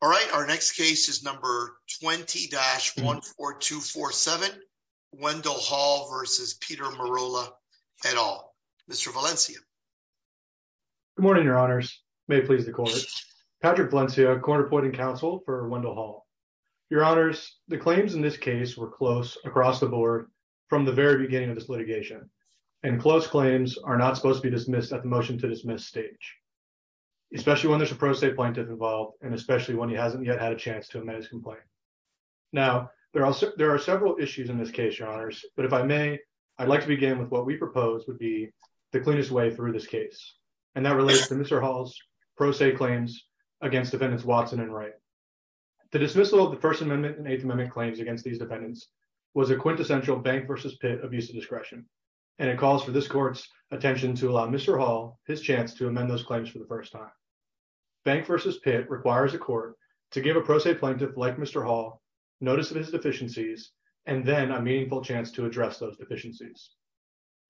All right, our next case is number 20-14247, Wendall Hall v. Peter Merola et al. Mr. Valencia. Good morning, your honors. May it please the court. Patrick Valencia, court appointing counsel for Wendall Hall. Your honors, the claims in this case were close across the board from the very beginning of this litigation, and close claims are not supposed to be dismissed at the motion to dismiss stage, especially when there's a pro se plaintiff involved and especially when he hasn't yet had a chance to amend his complaint. Now, there are several issues in this case, your honors, but if I may, I'd like to begin with what we propose would be the cleanest way through this case, and that relates to Mr. Hall's pro se claims against defendants Watson and Wright. The dismissal of the First Amendment and Eighth Amendment claims against these defendants was a quintessential Bank v. Pitt abuse of discretion, and it calls for this court's attention to allow Mr. Hall his chance to amend those claims for the to give a pro se plaintiff like Mr. Hall notice of his deficiencies, and then a meaningful chance to address those deficiencies.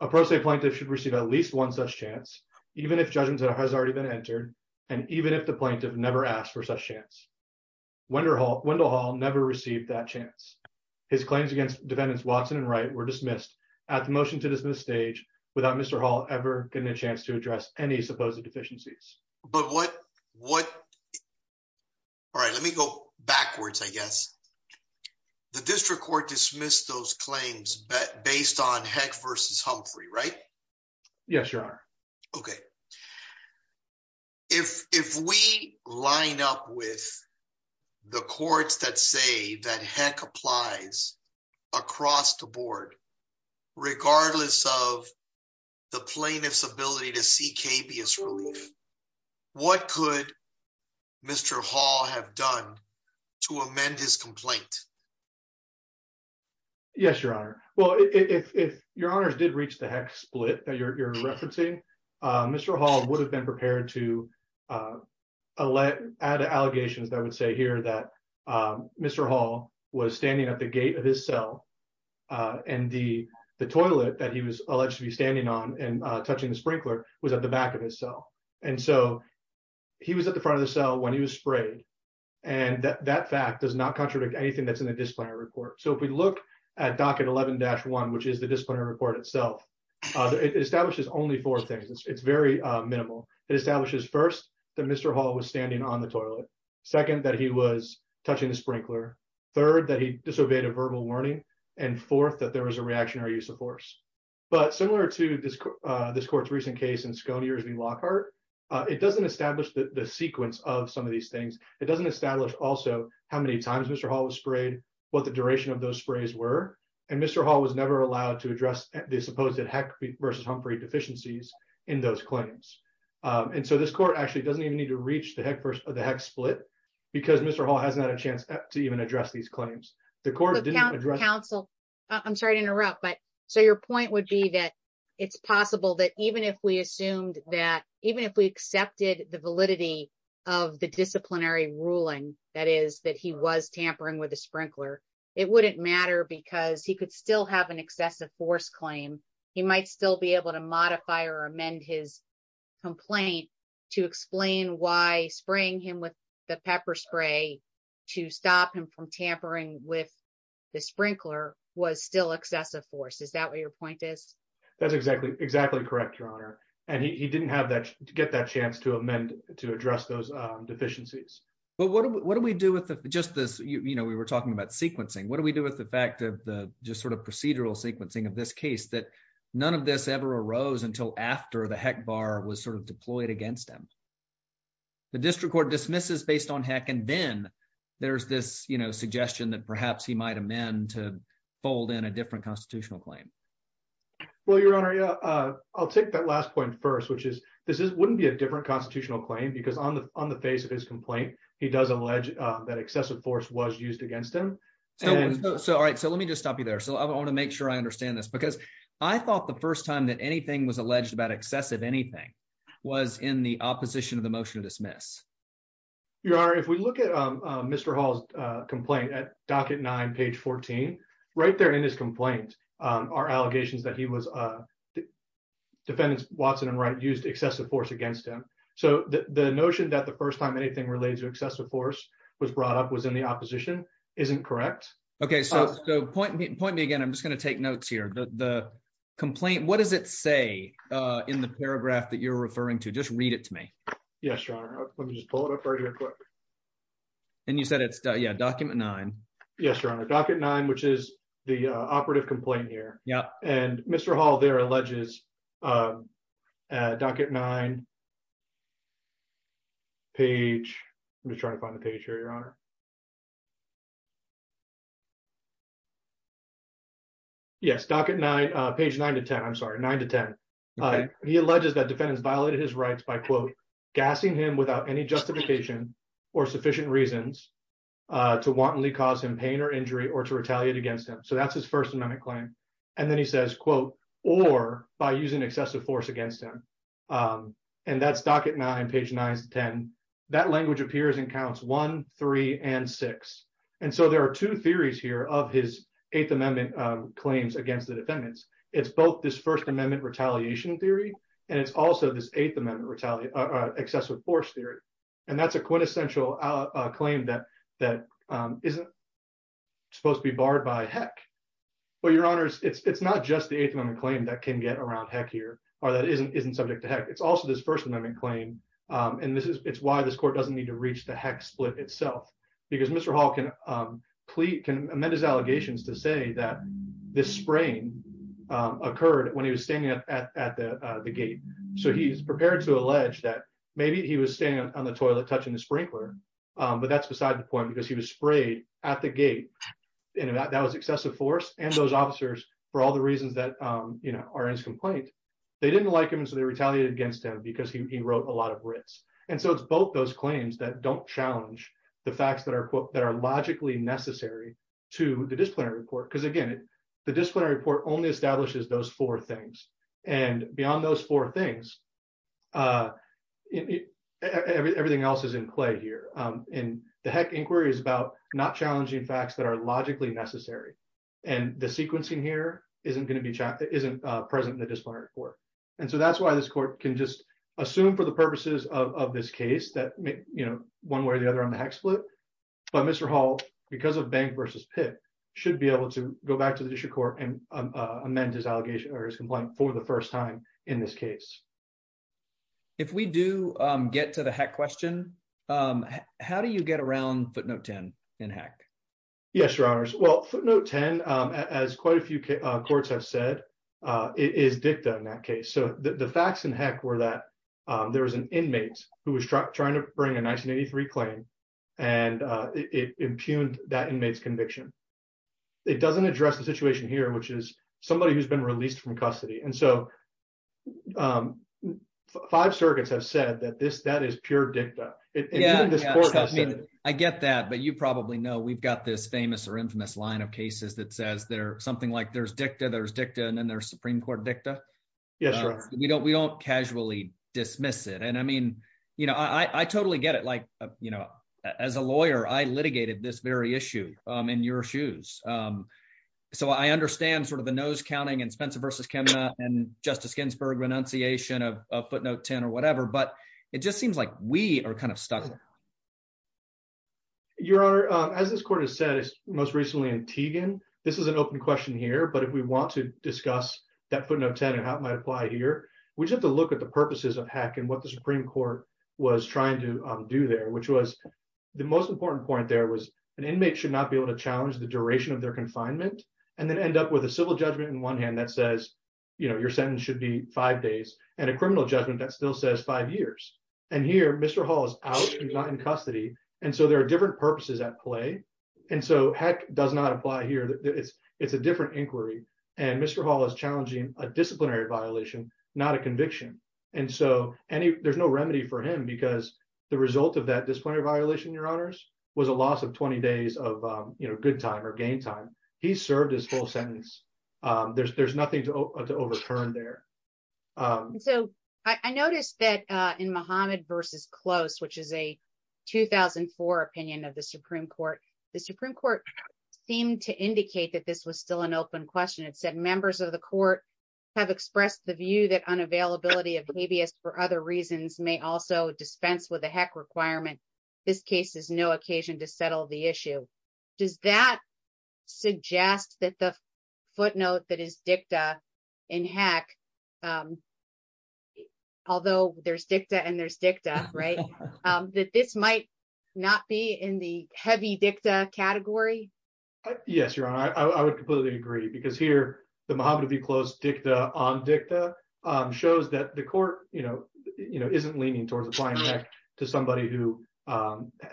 A pro se plaintiff should receive at least one such chance, even if judgment has already been entered, and even if the plaintiff never asked for such chance. Wendell Hall never received that chance. His claims against defendants Watson and Wright were dismissed at the motion to dismiss stage without Mr. Hall ever getting a chance to address any deficiencies. Let me go backwards, I guess. The district court dismissed those claims based on Heck v. Humphrey, right? Yes, your honor. Okay. If we line up with the courts that say that Mr. Hall was at the gate of his cell, and the toilet that he was alleged to be standing on and touching the sprinkler was at the back of his cell, and so he was at the front of the cell when he was sprayed, and that fact does not contradict anything that's in the disciplinary report. So if we look at docket 11-1, which is the disciplinary report itself, it establishes only four things. It's very minimal. It establishes first that Mr. Hall was standing on the toilet, second that he was touching the sprinkler, third that he disobeyed a verbal warning, and fourth that there was a reactionary use of force. But similar to this court's recent case in Sconiars v. Lockhart, it doesn't establish the sequence of some of these things. It doesn't establish also how many times Mr. Hall was sprayed, what the duration of those sprays were, and Mr. Hall was never allowed to address the supposed Heck v. Humphrey deficiencies in those claims. And so this court actually doesn't even need to reach the Heck split because Mr. Hall has not had a chance to even address these claims. The court didn't address counsel. I'm sorry to interrupt, but so your point would be that it's possible that even if we assumed that even if we accepted the validity of the disciplinary ruling, that is that he was tampering with a sprinkler, it wouldn't matter because he could still have an excessive force claim. He might still be able to modify or amend his complaint to explain why spraying him with pepper spray to stop him from tampering with the sprinkler was still excessive force. Is that what your point is? That's exactly correct, your honor. And he didn't get that chance to amend to address those deficiencies. But what do we do with just this? We were talking about sequencing. What do we do with the fact of the just sort of procedural sequencing of this case that none of this ever arose until after the Heck bar was sort of deployed against him? The district court dismisses based on Heck, and then there's this, you know, suggestion that perhaps he might amend to fold in a different constitutional claim. Well, your honor, I'll take that last point first, which is this wouldn't be a different constitutional claim because on the on the face of his complaint, he does allege that excessive force was used against him. So all right, so let me just stop you there. So I want to make sure I understand this because I thought the first time that anything was alleged about excessive anything was in the opposition of the motion to dismiss. Your honor, if we look at Mr. Hall's complaint at docket nine, page 14, right there in his complaint, our allegations that he was defendants Watson and Wright used excessive force against him. So the notion that the first time anything relates to excessive force was brought up was in the opposition isn't correct. Okay, so point point me again. I'm just going to take notes here. The complaint, what does it say in the paragraph that you're referring to? Just read it to me. Yes, your honor. Let me just pull it up right here quick. And you said it's yeah, document nine. Yes, your honor. Docket nine, which is the operative complaint here. Yeah. And Mr. Hall there alleges docket nine page. I'm just trying to find the page here, your honor. Yes, docket nine, page nine to 10, I'm sorry, nine to 10. He alleges that defendants violated his rights by, quote, gassing him without any justification or sufficient reasons to wantonly cause him pain or injury or to retaliate against him. So that's his first amendment claim. And then he says, quote, or by using excessive force against him. And that's docket nine, page nine to 10. That language appears in counts one, three, and four. And then he says, quote, and six. And so there are two theories here of his eighth amendment claims against the defendants. It's both this first amendment retaliation theory. And it's also this eighth amendment excessive force theory. And that's a quintessential claim that isn't supposed to be barred by heck. Well, your honors, it's not just the eighth amendment claim that can get around heck here, or that isn't subject to heck. It's also this first amendment claim. And it's why this court doesn't need to reach the heck split itself. Because Mr. Hall can plead, can amend his allegations to say that this spraying occurred when he was standing up at the gate. So he's prepared to allege that maybe he was standing on the toilet touching the sprinkler. But that's beside the point, because he was sprayed at the gate. And that was excessive force. And those officers, for all the reasons that are in his complaint, they didn't like him. And so they don't challenge the facts that are logically necessary to the disciplinary report. Because again, the disciplinary report only establishes those four things. And beyond those four things, everything else is in clay here. And the heck inquiry is about not challenging facts that are logically necessary. And the sequencing here isn't going to be present in the disciplinary report. And so that's why this court can just assume for the purposes of this case that one way or the other on the heck split. But Mr. Hall, because of bank versus pit, should be able to go back to the district court and amend his allegation or his complaint for the first time in this case. If we do get to the heck question, how do you get around footnote 10 in heck? Yes, your honors. Well, footnote 10, as quite a few courts have said, is dicta in that case. So the facts in heck were that there was an inmate who was trying to bring a 1983 claim. And it impugned that inmate's conviction. It doesn't address the situation here, which is somebody who's been released from custody. And so five circuits have said that that is pure dicta. Yeah, I get that. But you probably know, we've got this famous or infamous line of cases that says they're something like there's dicta, there's dicta, and then there's Supreme Court dicta. Yes, we don't we don't casually dismiss it. And I mean, you know, I totally get it. Like, you know, as a lawyer, I litigated this very issue in your shoes. So I understand sort of the nose counting and Spencer versus chemo and Justice Ginsburg renunciation of footnote 10, but it just seems like we are kind of stuck. Your honor, as this court has said, most recently in Tegan, this is an open question here. But if we want to discuss that footnote 10, and how it might apply here, we have to look at the purposes of heck and what the Supreme Court was trying to do there, which was the most important point there was an inmate should not be able to challenge the duration of their confinement, and then end up with a civil judgment in one hand that says, you know, your sentence should be five days, and a criminal judgment that still says five years. And here, Mr. Hall is not in custody. And so there are different purposes at play. And so heck does not apply here. It's, it's a different inquiry. And Mr. Hall is challenging a disciplinary violation, not a conviction. And so any there's no remedy for him, because the result of that disciplinary violation, your honors, was a loss of 20 days of, you know, good time or game time. He served his full sentence. There's there's nothing to overturn there. So I noticed that in Muhammad versus close, which is a 2004 opinion of the Supreme Court, the Supreme Court seemed to indicate that this was still an open question. It said members of the court have expressed the view that unavailability of habeas for other reasons may also dispense with the heck requirement. This case is no occasion to settle the issue. Does that suggest that the footnote that is dicta in heck? Although there's dicta, and there's dicta, right, that this might not be in the heavy dicta category? Yes, Your Honor, I would completely agree. Because here, the Muhammad v. Close dicta on dicta shows that the court, you know, you know, isn't leaning towards applying to somebody who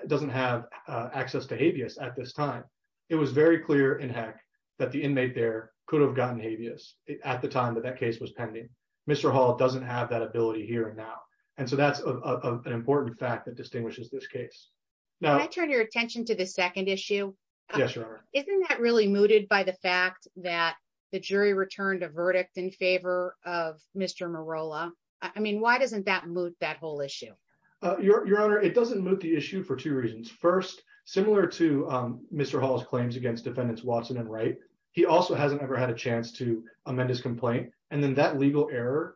doesn't have access to habeas at this time. It was very clear in heck, that the inmate there could have gotten habeas at the time that that case was pending. Mr. Hall doesn't have that ability here now. And so that's an important fact that distinguishes this case. Now I turn your attention to the second issue. Yes, Your Honor. Isn't that really mooted by the fact that the jury returned a verdict in favor of Mr. Marola? I mean, why doesn't that move that whole issue? Your Honor, it doesn't move the issue for two reasons. First, similar to Mr. Hall's claims against defendants Watson and Wright, he also hasn't ever had a chance to amend his complaint. And then that legal error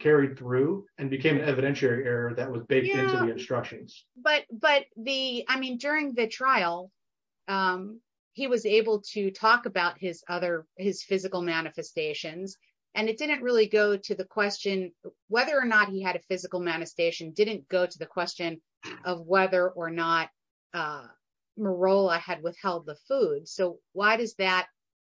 carried through and became an evidentiary error that was baked into the instructions. But, but the I mean, during the trial, he was able to talk about his other his physical manifestations. And it didn't really go to the question, whether or not he had a did not go to the question of whether or not Marola had withheld the food. So why does that?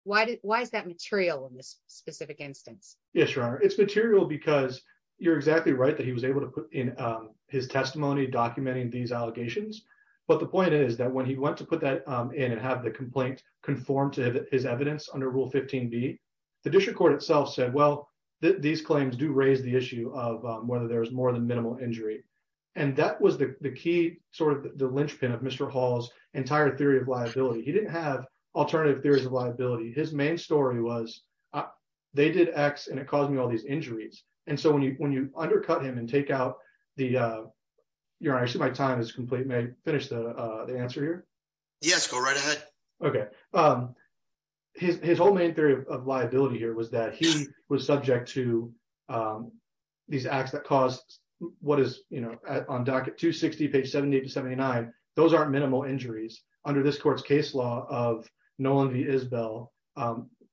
Why did why is that material in this specific instance? Yes, Your Honor. It's material because you're exactly right that he was able to put in his testimony documenting these allegations. But the point is that when he went to put that in and have the complaint conform to his evidence under Rule 15b, the district court itself said, well, these claims do raise the issue of whether there's more than minimal injury. And that was the key sort of the linchpin of Mr. Hall's entire theory of liability. He didn't have alternative theories of liability. His main story was they did X and it caused me all these injuries. And so when you when you undercut him and take out the Your Honor, I see my time is complete. May I finish the answer here? Yes, go right ahead. Okay. His whole main theory of liability here was that he was subject to these acts that what is on docket 260, page 70 to 79. Those are minimal injuries under this court's case law of Nolan Isbell.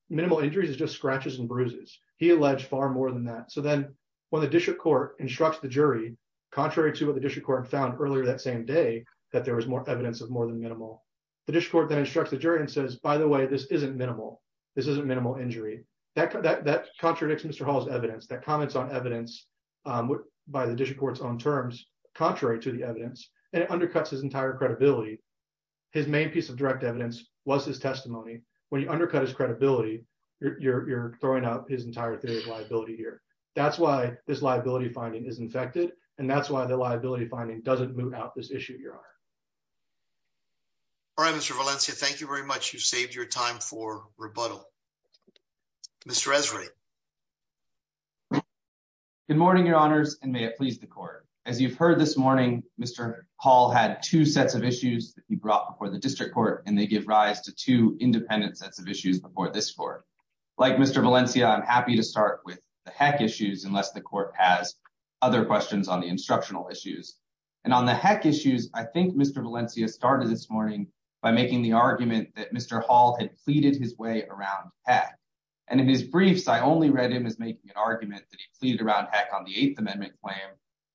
Minimal injuries is just scratches and bruises. He alleged far more than that. So then when the district court instructs the jury, contrary to what the district court found earlier that same day, that there was more evidence of more than minimal. The district court then instructs the jury and says, by the way, this isn't minimal. This is a minimal injury that contradicts Mr. Hall's evidence that comments on evidence by the district court's own terms, contrary to the evidence, and it undercuts his entire credibility. His main piece of direct evidence was his testimony. When you undercut his credibility, you're throwing up his entire theory of liability here. That's why this liability finding is infected. And that's why the liability finding doesn't move out this issue, Your Honor. All right, Mr. Valencia, thank you very much. You've saved your time for rebuttal. Mr. Esri. Good morning, Your Honors, and may it please the court. As you've heard this morning, Mr. Hall had two sets of issues that he brought before the district court, and they give rise to two independent sets of issues before this court. Like Mr. Valencia, I'm happy to start with the heck issues unless the court has other questions on the instructional issues. And on the heck issues, I think Mr. Valencia started this morning by making the argument that Mr. Hall had pleaded his way around heck. And in his briefs, I only read him as making an argument that he pleaded around heck on the Eighth Amendment claim.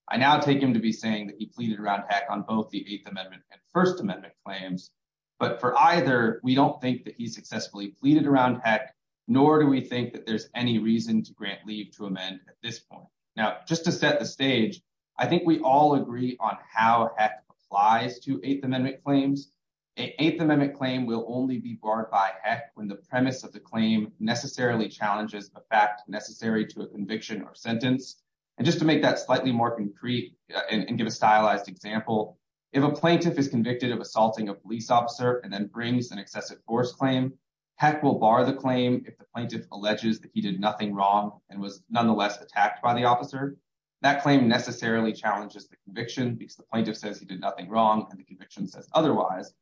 I now take him to be saying that he pleaded around heck on both the Eighth Amendment and First Amendment claims. But for either, we don't think that he successfully pleaded around heck, nor do we think that there's any reason to grant leave to amend at this point. Now, just to set the stage, I think we all agree on how heck applies to Eighth Amendment claims. An Eighth Amendment claim will only be barred by heck when the premise of the claim necessarily challenges the fact necessary to a conviction or sentence. And just to make that slightly more concrete and give a stylized example, if a plaintiff is convicted of assaulting a police officer and then brings an excessive force claim, heck will bar the claim if the plaintiff alleges that he did nothing wrong and was nonetheless attacked by the officer. That claim necessarily challenges the conviction because the plaintiff says he did nothing wrong and the conviction says otherwise.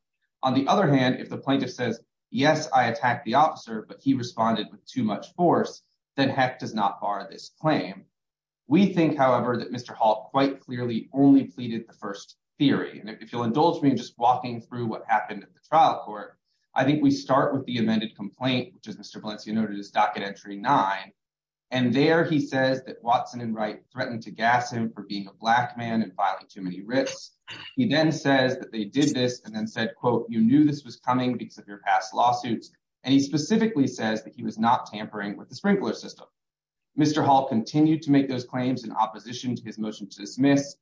On the other hand, if the plaintiff says, yes, I attacked the officer, but he responded with too much force, then heck does not bar this claim. We think, however, that Mr. Hall quite clearly only pleaded the first theory. And if you'll indulge me in just walking through what happened at the trial court, I think we start with the amended complaint, which as Mr. Valencia noted, is docket entry nine. And there he says that Watson and Wright threatened to gas him for being a black man and filing too many writs. He then says that they did this and then said, quote, you knew this was coming because of your past lawsuits. And he specifically says that he was not tampering with the sprinkler system. Mr. Hall continued to make those claims in opposition to his motion to dismiss.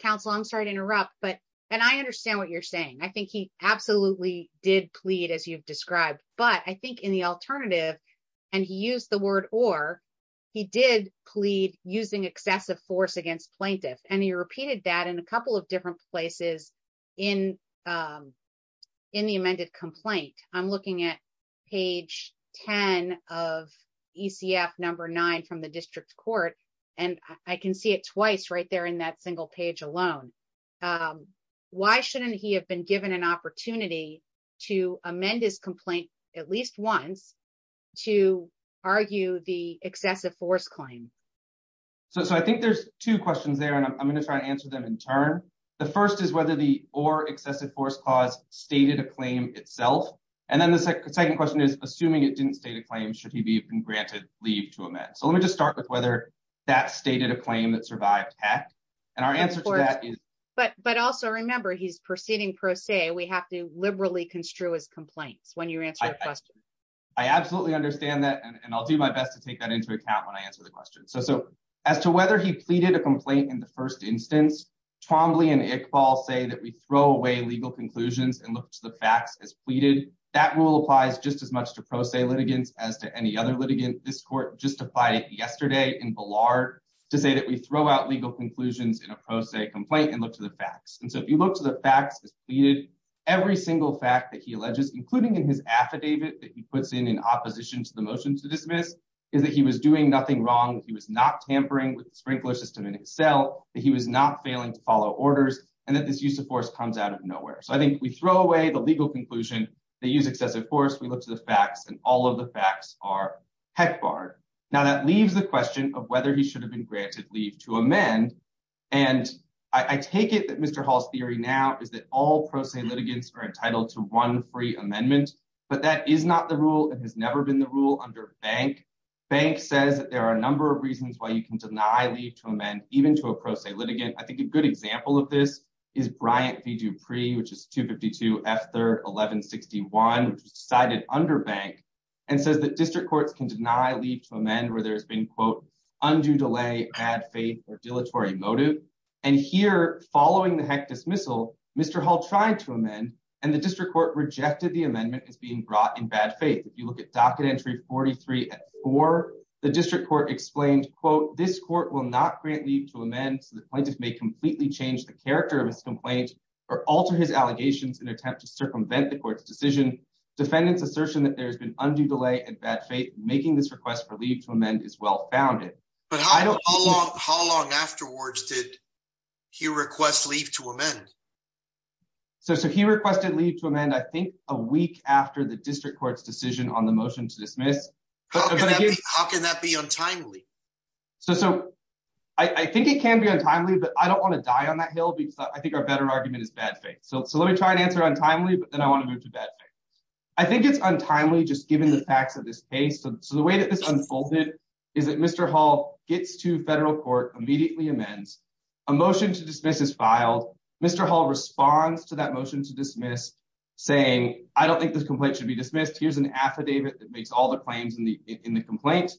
Counsel, I'm sorry to interrupt, but and I understand what you're saying. I think he absolutely did plead, as you've described, but I think in the alternative and he used the word or he did plead using excessive force against plaintiff. And he repeated that in a couple of different places in the amended complaint. I'm looking at page 10 of ECF number nine from the district court, and I can see it twice right there in that single page alone. Why shouldn't he have been given an opportunity to amend his complaint at least once to argue the excessive force claim? So I think there's two questions there, and I'm going to try to answer them in turn. The first is whether the or excessive force clause stated a claim itself. And then the second question is, assuming it didn't state a claim, should he be granted leave to amend? So let me just start with whether that stated a claim that survived and our answer to that is. But also remember he's proceeding pro se. We have to liberally construe his complaints when you answer the question. I absolutely understand that, and I'll do my best to take that into account when I answer the question. So as to whether he pleaded a complaint in the first instance, Twombly and Iqbal say that we throw away legal conclusions and look to the facts as pleaded. That rule applies just as much to pro se litigants as to any other litigant. This court justified it yesterday in Ballard to say that we throw out legal conclusions in a pro se complaint and look to the facts. And so if you look to the facts as pleaded, every single fact that he alleges, including in his affidavit that he puts in in opposition to the motion to dismiss, is that he was doing nothing wrong. He was not tampering with the sprinkler system in itself, that he was not failing to follow orders, and that this use of force comes out of nowhere. So I think we throw away the legal conclusion. They use excessive force. We look to the facts, and all of the facts are heck barred. Now that leaves the question of whether he should have been granted leave to amend. And I take it that Mr. Hall's theory now is that all pro se litigants are entitled to one free amendment, but that is not the rule. It has never been the rule under Bank. Bank says that there are a number of reasons why you can deny leave to amend, even to a pro se litigant. I think a good example of this is Bryant v. Dupree, which is 252 F. 3rd 1161, which was cited under Bank, and says that district courts can deny leave to amend where there has been, quote, undue delay, bad faith, or dilatory motive. And here, following the heck dismissal, Mr. Hall tried to amend, and the district court rejected the amendment as being brought in bad faith. If you look at docket entry 43 at 4, the district court explained, quote, this court will not grant leave to amend, so the plaintiff may completely change the character of his complaint or alter his allegations in an attempt to circumvent the court's decision. Defendants assertion that there has been undue delay and bad faith making this request for leave to amend is well founded. But how long afterwards did he request leave to amend? So he requested leave to amend, I think, a week after the district court's decision on the motion to dismiss. How can that be untimely? So I think it can be untimely, but I don't want to die on that hill, I think our better argument is bad faith. So let me try and answer untimely, but then I want to move to bad faith. I think it's untimely, just given the facts of this case. So the way that this unfolded is that Mr. Hall gets to federal court, immediately amends. A motion to dismiss is filed. Mr. Hall responds to that motion to dismiss, saying, I don't think this complaint should be dismissed. Here's an affidavit that makes all the claims in the complaint.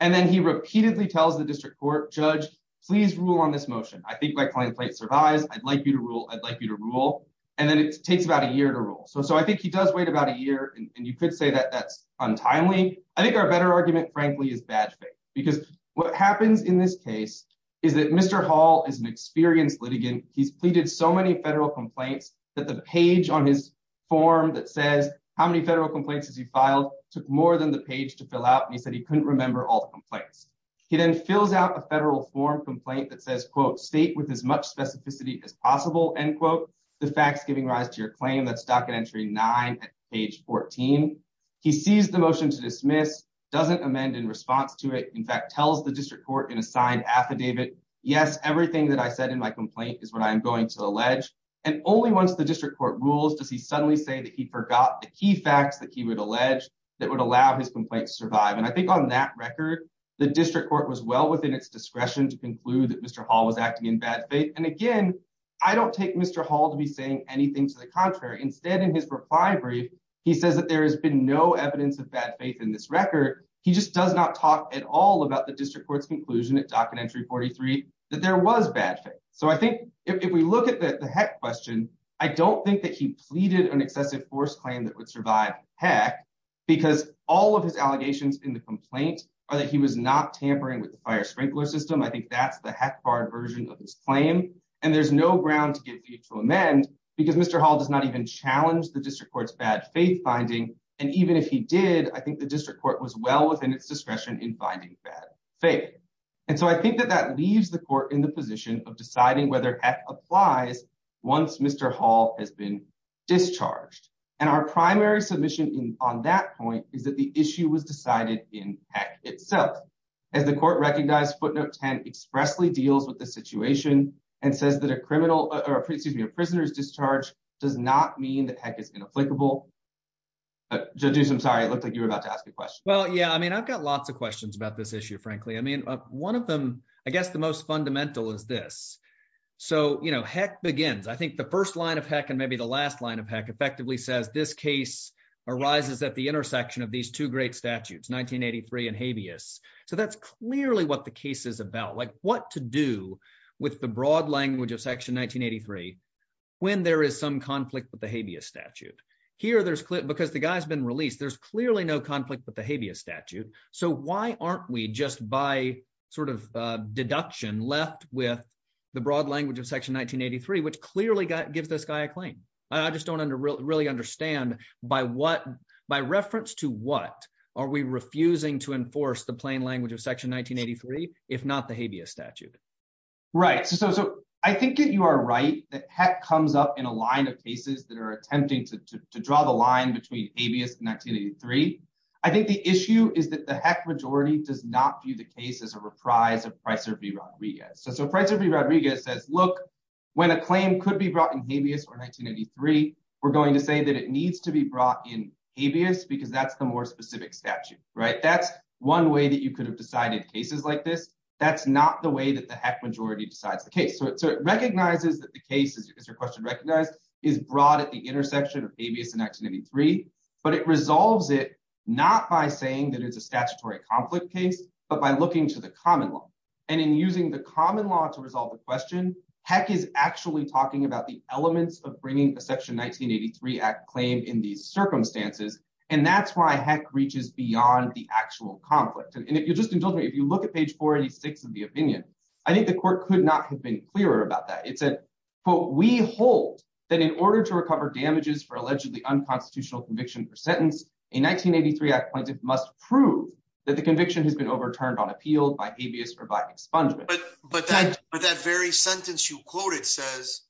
And then he repeatedly tells the district court, judge, please rule on this motion. I think my claim survives. I'd like you to rule. I'd like you to rule. And then it takes about a year to rule. So I think he does wait about a year. And you could say that that's untimely. I think our better argument, frankly, is bad faith. Because what happens in this case is that Mr. Hall is an experienced litigant. He's pleaded so many federal complaints that the page on his form that says, how many federal complaints has he filed, took more than the page to fill out. And he said he couldn't remember all the complaints. He then fills out a federal form complaint that says, state with as much specificity as possible, end quote, the facts giving rise to your claim. That's docket entry 9 at page 14. He sees the motion to dismiss, doesn't amend in response to it. In fact, tells the district court in a signed affidavit, yes, everything that I said in my complaint is what I am going to allege. And only once the district court rules does he suddenly say that he forgot the key facts that he would allege that would allow his complaint to survive. And I think on that record, the district court was well within its discretion to conclude that Hall was acting in bad faith. And again, I don't take Mr. Hall to be saying anything to the contrary. Instead, in his reply brief, he says that there has been no evidence of bad faith in this record. He just does not talk at all about the district court's conclusion at docket entry 43 that there was bad faith. So I think if we look at the heck question, I don't think that he pleaded an excessive force claim that would survive heck, because all of his allegations in the complaint are that he was not tampering with the fire sprinkler system. I think that's the heck barred version of his claim. And there's no ground to get to amend because Mr. Hall does not even challenge the district court's bad faith finding. And even if he did, I think the district court was well within its discretion in finding bad faith. And so I think that that leaves the court in the position of deciding whether heck applies once Mr. Hall has been discharged. And our primary submission on that point is that the issue was decided in heck itself. As the court recognized, footnote 10 expressly deals with the situation and says that a prisoner's discharge does not mean that heck is inapplicable. Judges, I'm sorry. It looked like you were about to ask a question. Well, yeah. I mean, I've got lots of questions about this issue, frankly. I mean, one of them, I guess the most fundamental is this. So heck begins. I think the first line of heck, maybe the last line of heck, effectively says this case arises at the intersection of these two great statutes, 1983 and habeas. So that's clearly what the case is about, like what to do with the broad language of section 1983 when there is some conflict with the habeas statute. Here, because the guy's been released, there's clearly no conflict with the habeas statute. So why aren't we just by sort of deduction left with the broad language of section 1983, which clearly gives this guy a claim? I just don't really understand by reference to what are we refusing to enforce the plain language of section 1983, if not the habeas statute? Right. So I think that you are right that heck comes up in a line of cases that are attempting to draw the line between habeas and 1983. I think the issue is that the heck majority does not view the case as a reprise of Pricer v. Rodriguez. So Pricer v. Rodriguez says, look, when a claim could be brought in habeas or 1983, we're going to say that it needs to be brought in habeas because that's the more specific statute, right? That's one way that you could have decided cases like this. That's not the way that the heck majority decides the case. So it recognizes that the case, as your question recognized, is brought at the intersection of habeas in 1983, but it resolves it not by saying that it's a statutory conflict case, but by looking to the common law. And in using the common law to resolve the question, heck is actually talking about the elements of bringing a section 1983 act claim in these circumstances. And that's why heck reaches beyond the actual conflict. And if you just indulge me, if you look at page 486 of the opinion, I think the court could not have been clearer about that. It said, quote, we hold that in 1983 act must prove that the conviction has been overturned on appeal by habeas or by expungement. But that very sentence you quoted says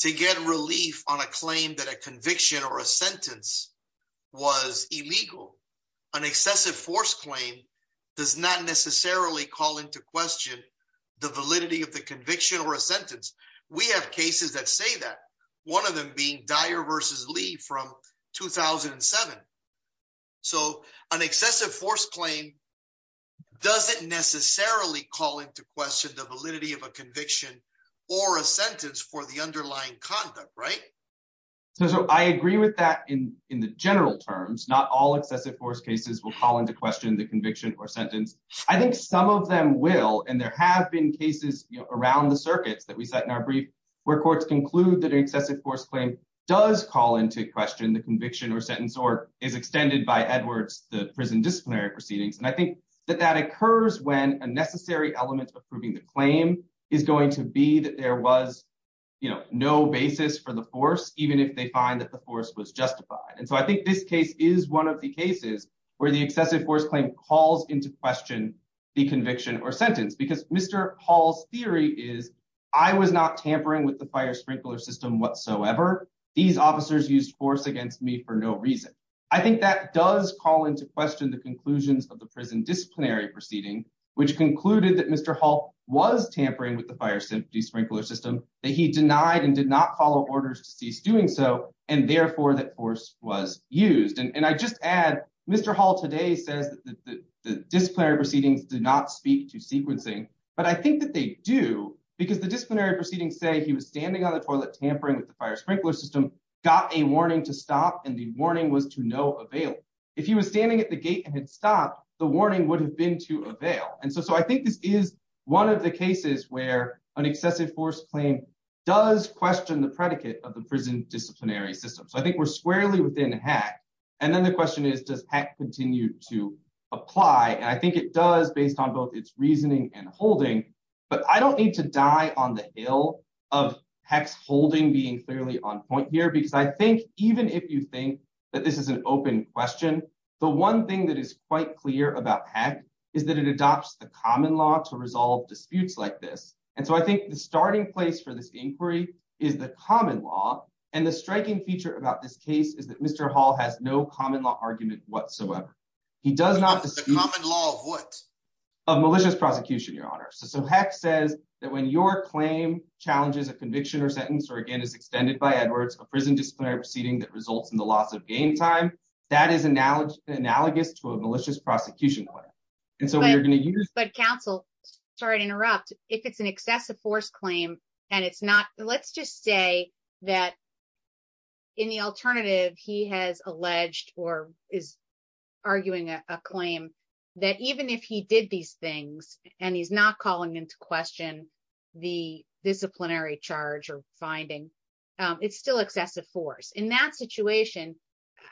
to get relief on a claim that a conviction or a sentence was illegal, an excessive force claim does not necessarily call into question the validity of the conviction or a sentence. We have cases that say that one of them being Dyer versus Lee from 2007. So an excessive force claim doesn't necessarily call into question the validity of a conviction or a sentence for the underlying conduct, right? So I agree with that in the general terms, not all excessive force cases will call into question the conviction or sentence. I think some of them will. And there have been cases around the circuits that we set in our brief where courts conclude that an excessive force claim does call into question the conviction or sentence or is extended by Edwards, the prison disciplinary proceedings. And I think that that occurs when a necessary element of proving the claim is going to be that there was, you know, no basis for the force, even if they find that the force was justified. And so I think this case is one of the cases where the excessive force claim calls into question the conviction or sentence. I think that does call into question the conclusions of the prison disciplinary proceeding, which concluded that Mr. Hall was tampering with the fire safety sprinkler system that he denied and did not follow orders to cease doing so. And therefore that force was used. And I just add, Mr. Hall today says that the disciplinary proceedings did not speak to sequencing, but I on the toilet tampering with the fire sprinkler system got a warning to stop and the warning was to no avail. If he was standing at the gate and had stopped, the warning would have been to avail. And so I think this is one of the cases where an excessive force claim does question the predicate of the prison disciplinary system. So I think we're squarely within HAC. And then the question is, does HAC continue to apply? And I think it does based on both its reasoning and holding, but I don't need to die on the hill of HAC's holding being clearly on point here, because I think even if you think that this is an open question, the one thing that is quite clear about HAC is that it adopts the common law to resolve disputes like this. And so I think the starting place for this inquiry is the common law. And the striking feature about this case is that Mr. Hall has no common law argument whatsoever. He does not- The common law of what? Of malicious prosecution, Your Honor. So HAC says that when your claim challenges a conviction or sentence or again is extended by Edwards, a prison disciplinary proceeding that results in the loss of game time, that is analogous to a malicious prosecution claim. And so we are going to use- But counsel, sorry to interrupt. If it's an excessive force claim and it's not, let's just say that in the alternative, he has alleged or is arguing a claim that even if he did these things and he's not calling into question the disciplinary charge or finding, it's still excessive force. In that situation,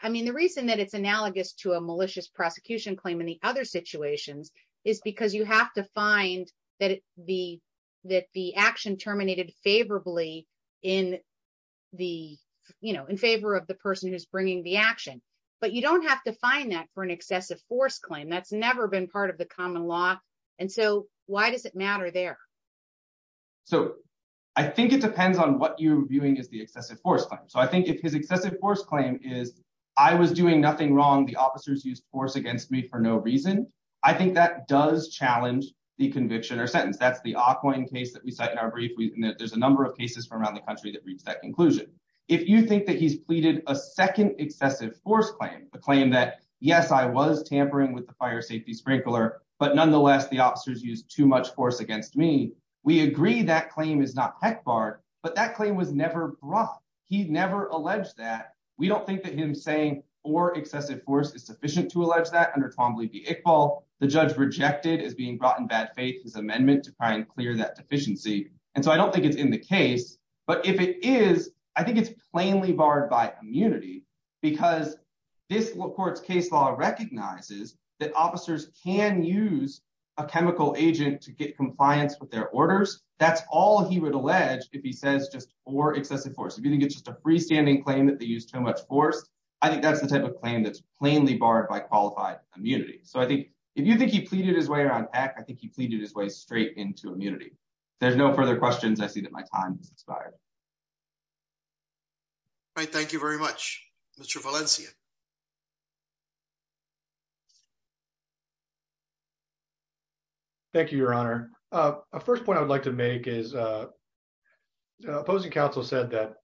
I mean, the reason that it's analogous to a malicious prosecution claim in the other situations is because you have to find that the action terminated favorably in favor of the person who's bringing the action. But you don't have to find that for an excessive force claim. That's never been part of the common law. And so why does it matter there? So I think it depends on what you're viewing as the excessive force claim. So I think if his excessive force claim is, I was doing nothing wrong. The officers used force against me for no reason. I think that does challenge the conviction or sentence. That's the Auckland case that we cite in our brief. There's a number of cases from around the country that reached that conclusion. If you think that he's pleaded a second excessive force claim, the claim that, yes, I was tampering with the fire safety sprinkler, but nonetheless, the officers used too much force against me. We agree that claim is not heck barred, but that claim was never brought. He never alleged that. We don't think that him saying or excessive force is sufficient to allege that under Twombly v. Iqbal, the judge rejected as being brought in bad faith his amendment to try and clear that deficiency. And so I don't think it's in the case, but if it is, I think it's plainly barred by immunity because this court's case law recognizes that officers can use a chemical agent to get compliance with their orders. That's all he would allege if he says just or excessive force. If you think it's just a freestanding claim that they used too much force, I think that's the type of claim that's plainly barred by qualified immunity. So I think if you think he pleaded his way around heck, I think he pleaded his way straight into immunity. There's no further questions. I see that my time has expired. All right. Thank you very much, Mr. Valencia. Thank you, Your Honor. The first point I would like to make is opposing counsel said that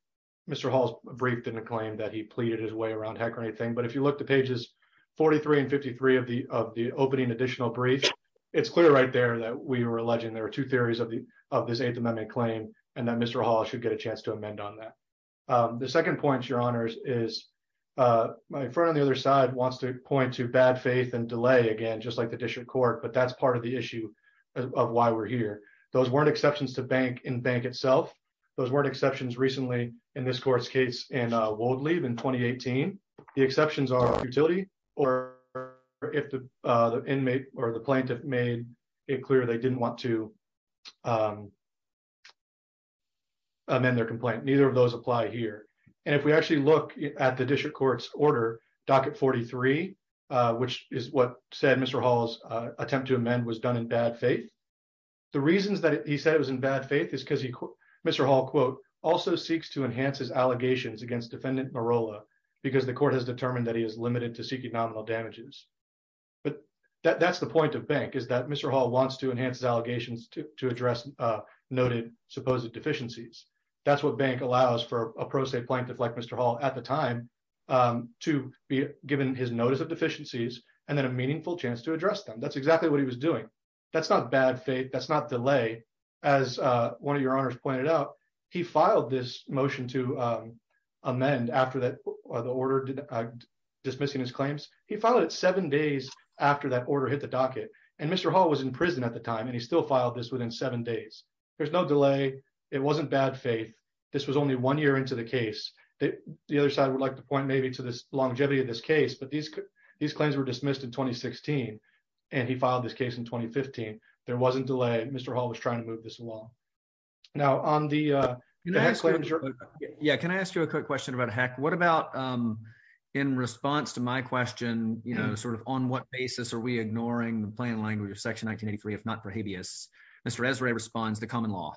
Mr. Hall's brief didn't claim that he pleaded his way around heck or anything. But if you look to pages 43 and 53 of the opening additional brief, it's clear right there that we were alleging there were two theories of the of this eighth amendment claim and that Mr. Hall should get a chance to amend on that. The second point, Your Honors, is my friend on the other side wants to point to bad faith and delay again, just like the district court. But that's part of the issue of why we're here. Those weren't exceptions to bank in bank itself. Those weren't exceptions recently in this court's case and in 2018. The exceptions are utility or if the inmate or the plaintiff made it clear they didn't want to amend their complaint. Neither of those apply here. And if we actually look at the district court's order docket 43, which is what said Mr. Hall's attempt to amend was done in bad faith. The reasons that he said it was in bad faith is because Mr. Hall quote also seeks to because the court has determined that he is limited to seeking nominal damages. But that's the point of bank is that Mr. Hall wants to enhance allegations to address noted supposed deficiencies. That's what bank allows for a pro se plaintiff like Mr. Hall at the time to be given his notice of deficiencies and then a meaningful chance to address them. That's exactly what he was doing. That's not bad faith. That's not delay. As one of your motion to amend after that the order dismissing his claims, he followed it seven days after that order hit the docket and Mr. Hall was in prison at the time and he still filed this within seven days. There's no delay. It wasn't bad faith. This was only one year into the case that the other side would like to point maybe to this longevity of this case. But these these claims were dismissed in 2016 and he filed this case in 2015. There wasn't delay. Mr. Hall was trying to move this now on the. Yeah, can I ask you a quick question about a hack? What about in response to my question, you know, sort of on what basis are we ignoring the plain language of Section 1983, if not for habeas, Mr. Esrae responds to common law.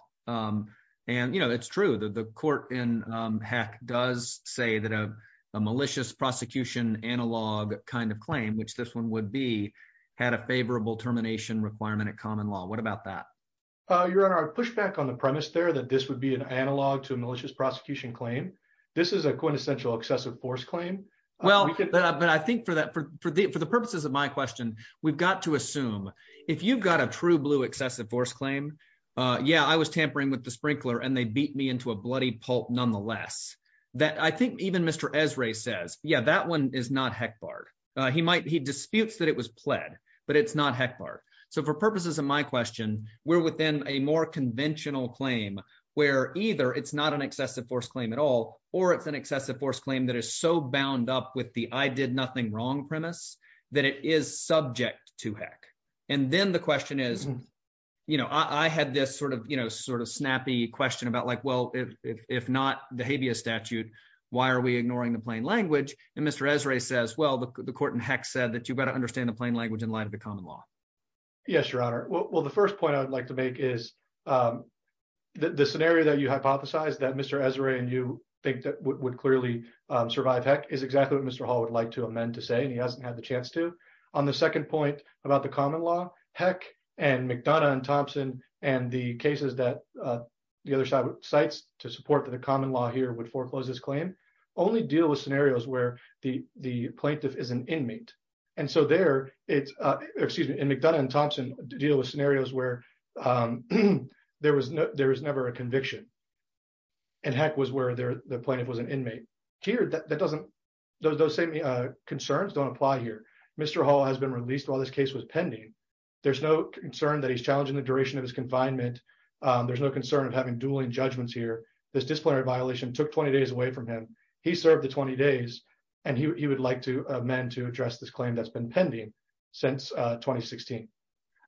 And, you know, it's true that the court in heck does say that a malicious prosecution analog kind of claim, which this one would be, had a favorable termination requirement at common law. What about that? Your Honor, I push back on the premise there that this would be an analog to a malicious prosecution claim. This is a quintessential excessive force claim. Well, but I think for that, for the purposes of my question, we've got to assume if you've got a true blue excessive force claim. Yeah, I was tampering with the sprinkler and they beat me into a bloody pulp. Nonetheless, that I think even Mr. Esrae says, yeah, that one is not heck Bart. He might he disputes that it was pled, but it's not heck Bart. So for purposes of my question, we're within a more conventional claim where either it's not an excessive force claim at all, or it's an excessive force claim that is so bound up with the, I did nothing wrong premise that it is subject to heck. And then the question is, you know, I had this sort of, you know, sort of snappy question about like, well, if not the habeas statute, why are we ignoring the plain language? And Mr. Esrae says, well, the court in heck said that you've got to is the scenario that you hypothesize that Mr. Esrae and you think that would clearly survive heck is exactly what Mr. Hall would like to amend to say. And he hasn't had the chance to on the second point about the common law, heck and McDonough and Thompson and the cases that the other side would sites to support that the common law here would foreclose this claim only deal with scenarios where the plaintiff is an inmate. And so there it's excuse me, McDonough and Thompson deal with scenarios where there was no, there was never a conviction and heck was where the plaintiff was an inmate here. That doesn't, those same concerns don't apply here. Mr. Hall has been released while this case was pending. There's no concern that he's challenging the duration of his confinement. There's no concern of having dueling judgments here. This disciplinary violation took 20 days away from him. He served the 20 days and he would like to amend to address this claim that's been pending since 2016.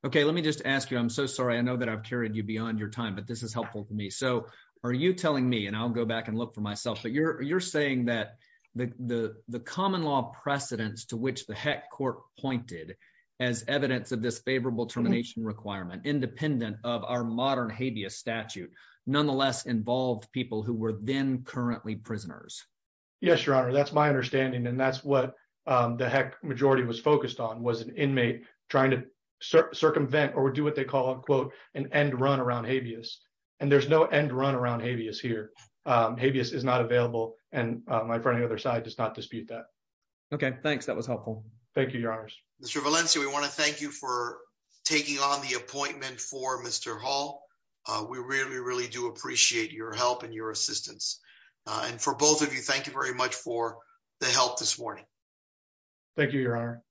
Okay, let me just ask you, I'm so sorry. I know that I've carried you beyond your time, but this is helpful to me. So are you telling me, and I'll go back and look for myself, but you're, you're saying that the, the, the common law precedents to which the heck court pointed as evidence of this favorable termination requirement, independent of our modern habeas statute, nonetheless involved people who were then currently prisoners? Yes, your honor. That's my understanding. And that's what, um, the heck majority was focused on was an inmate trying to circumvent or do what they call a quote and end run around habeas. And there's no end run around habeas here. Um, habeas is not available. And, uh, my friend, the other side does not dispute that. Okay. Thanks. That was helpful. Thank you, your honors. Mr. Valencia. We want to thank you for we really, really do appreciate your help and your assistance. And for both of you, thank you very much for the help this morning. Thank you, your honor.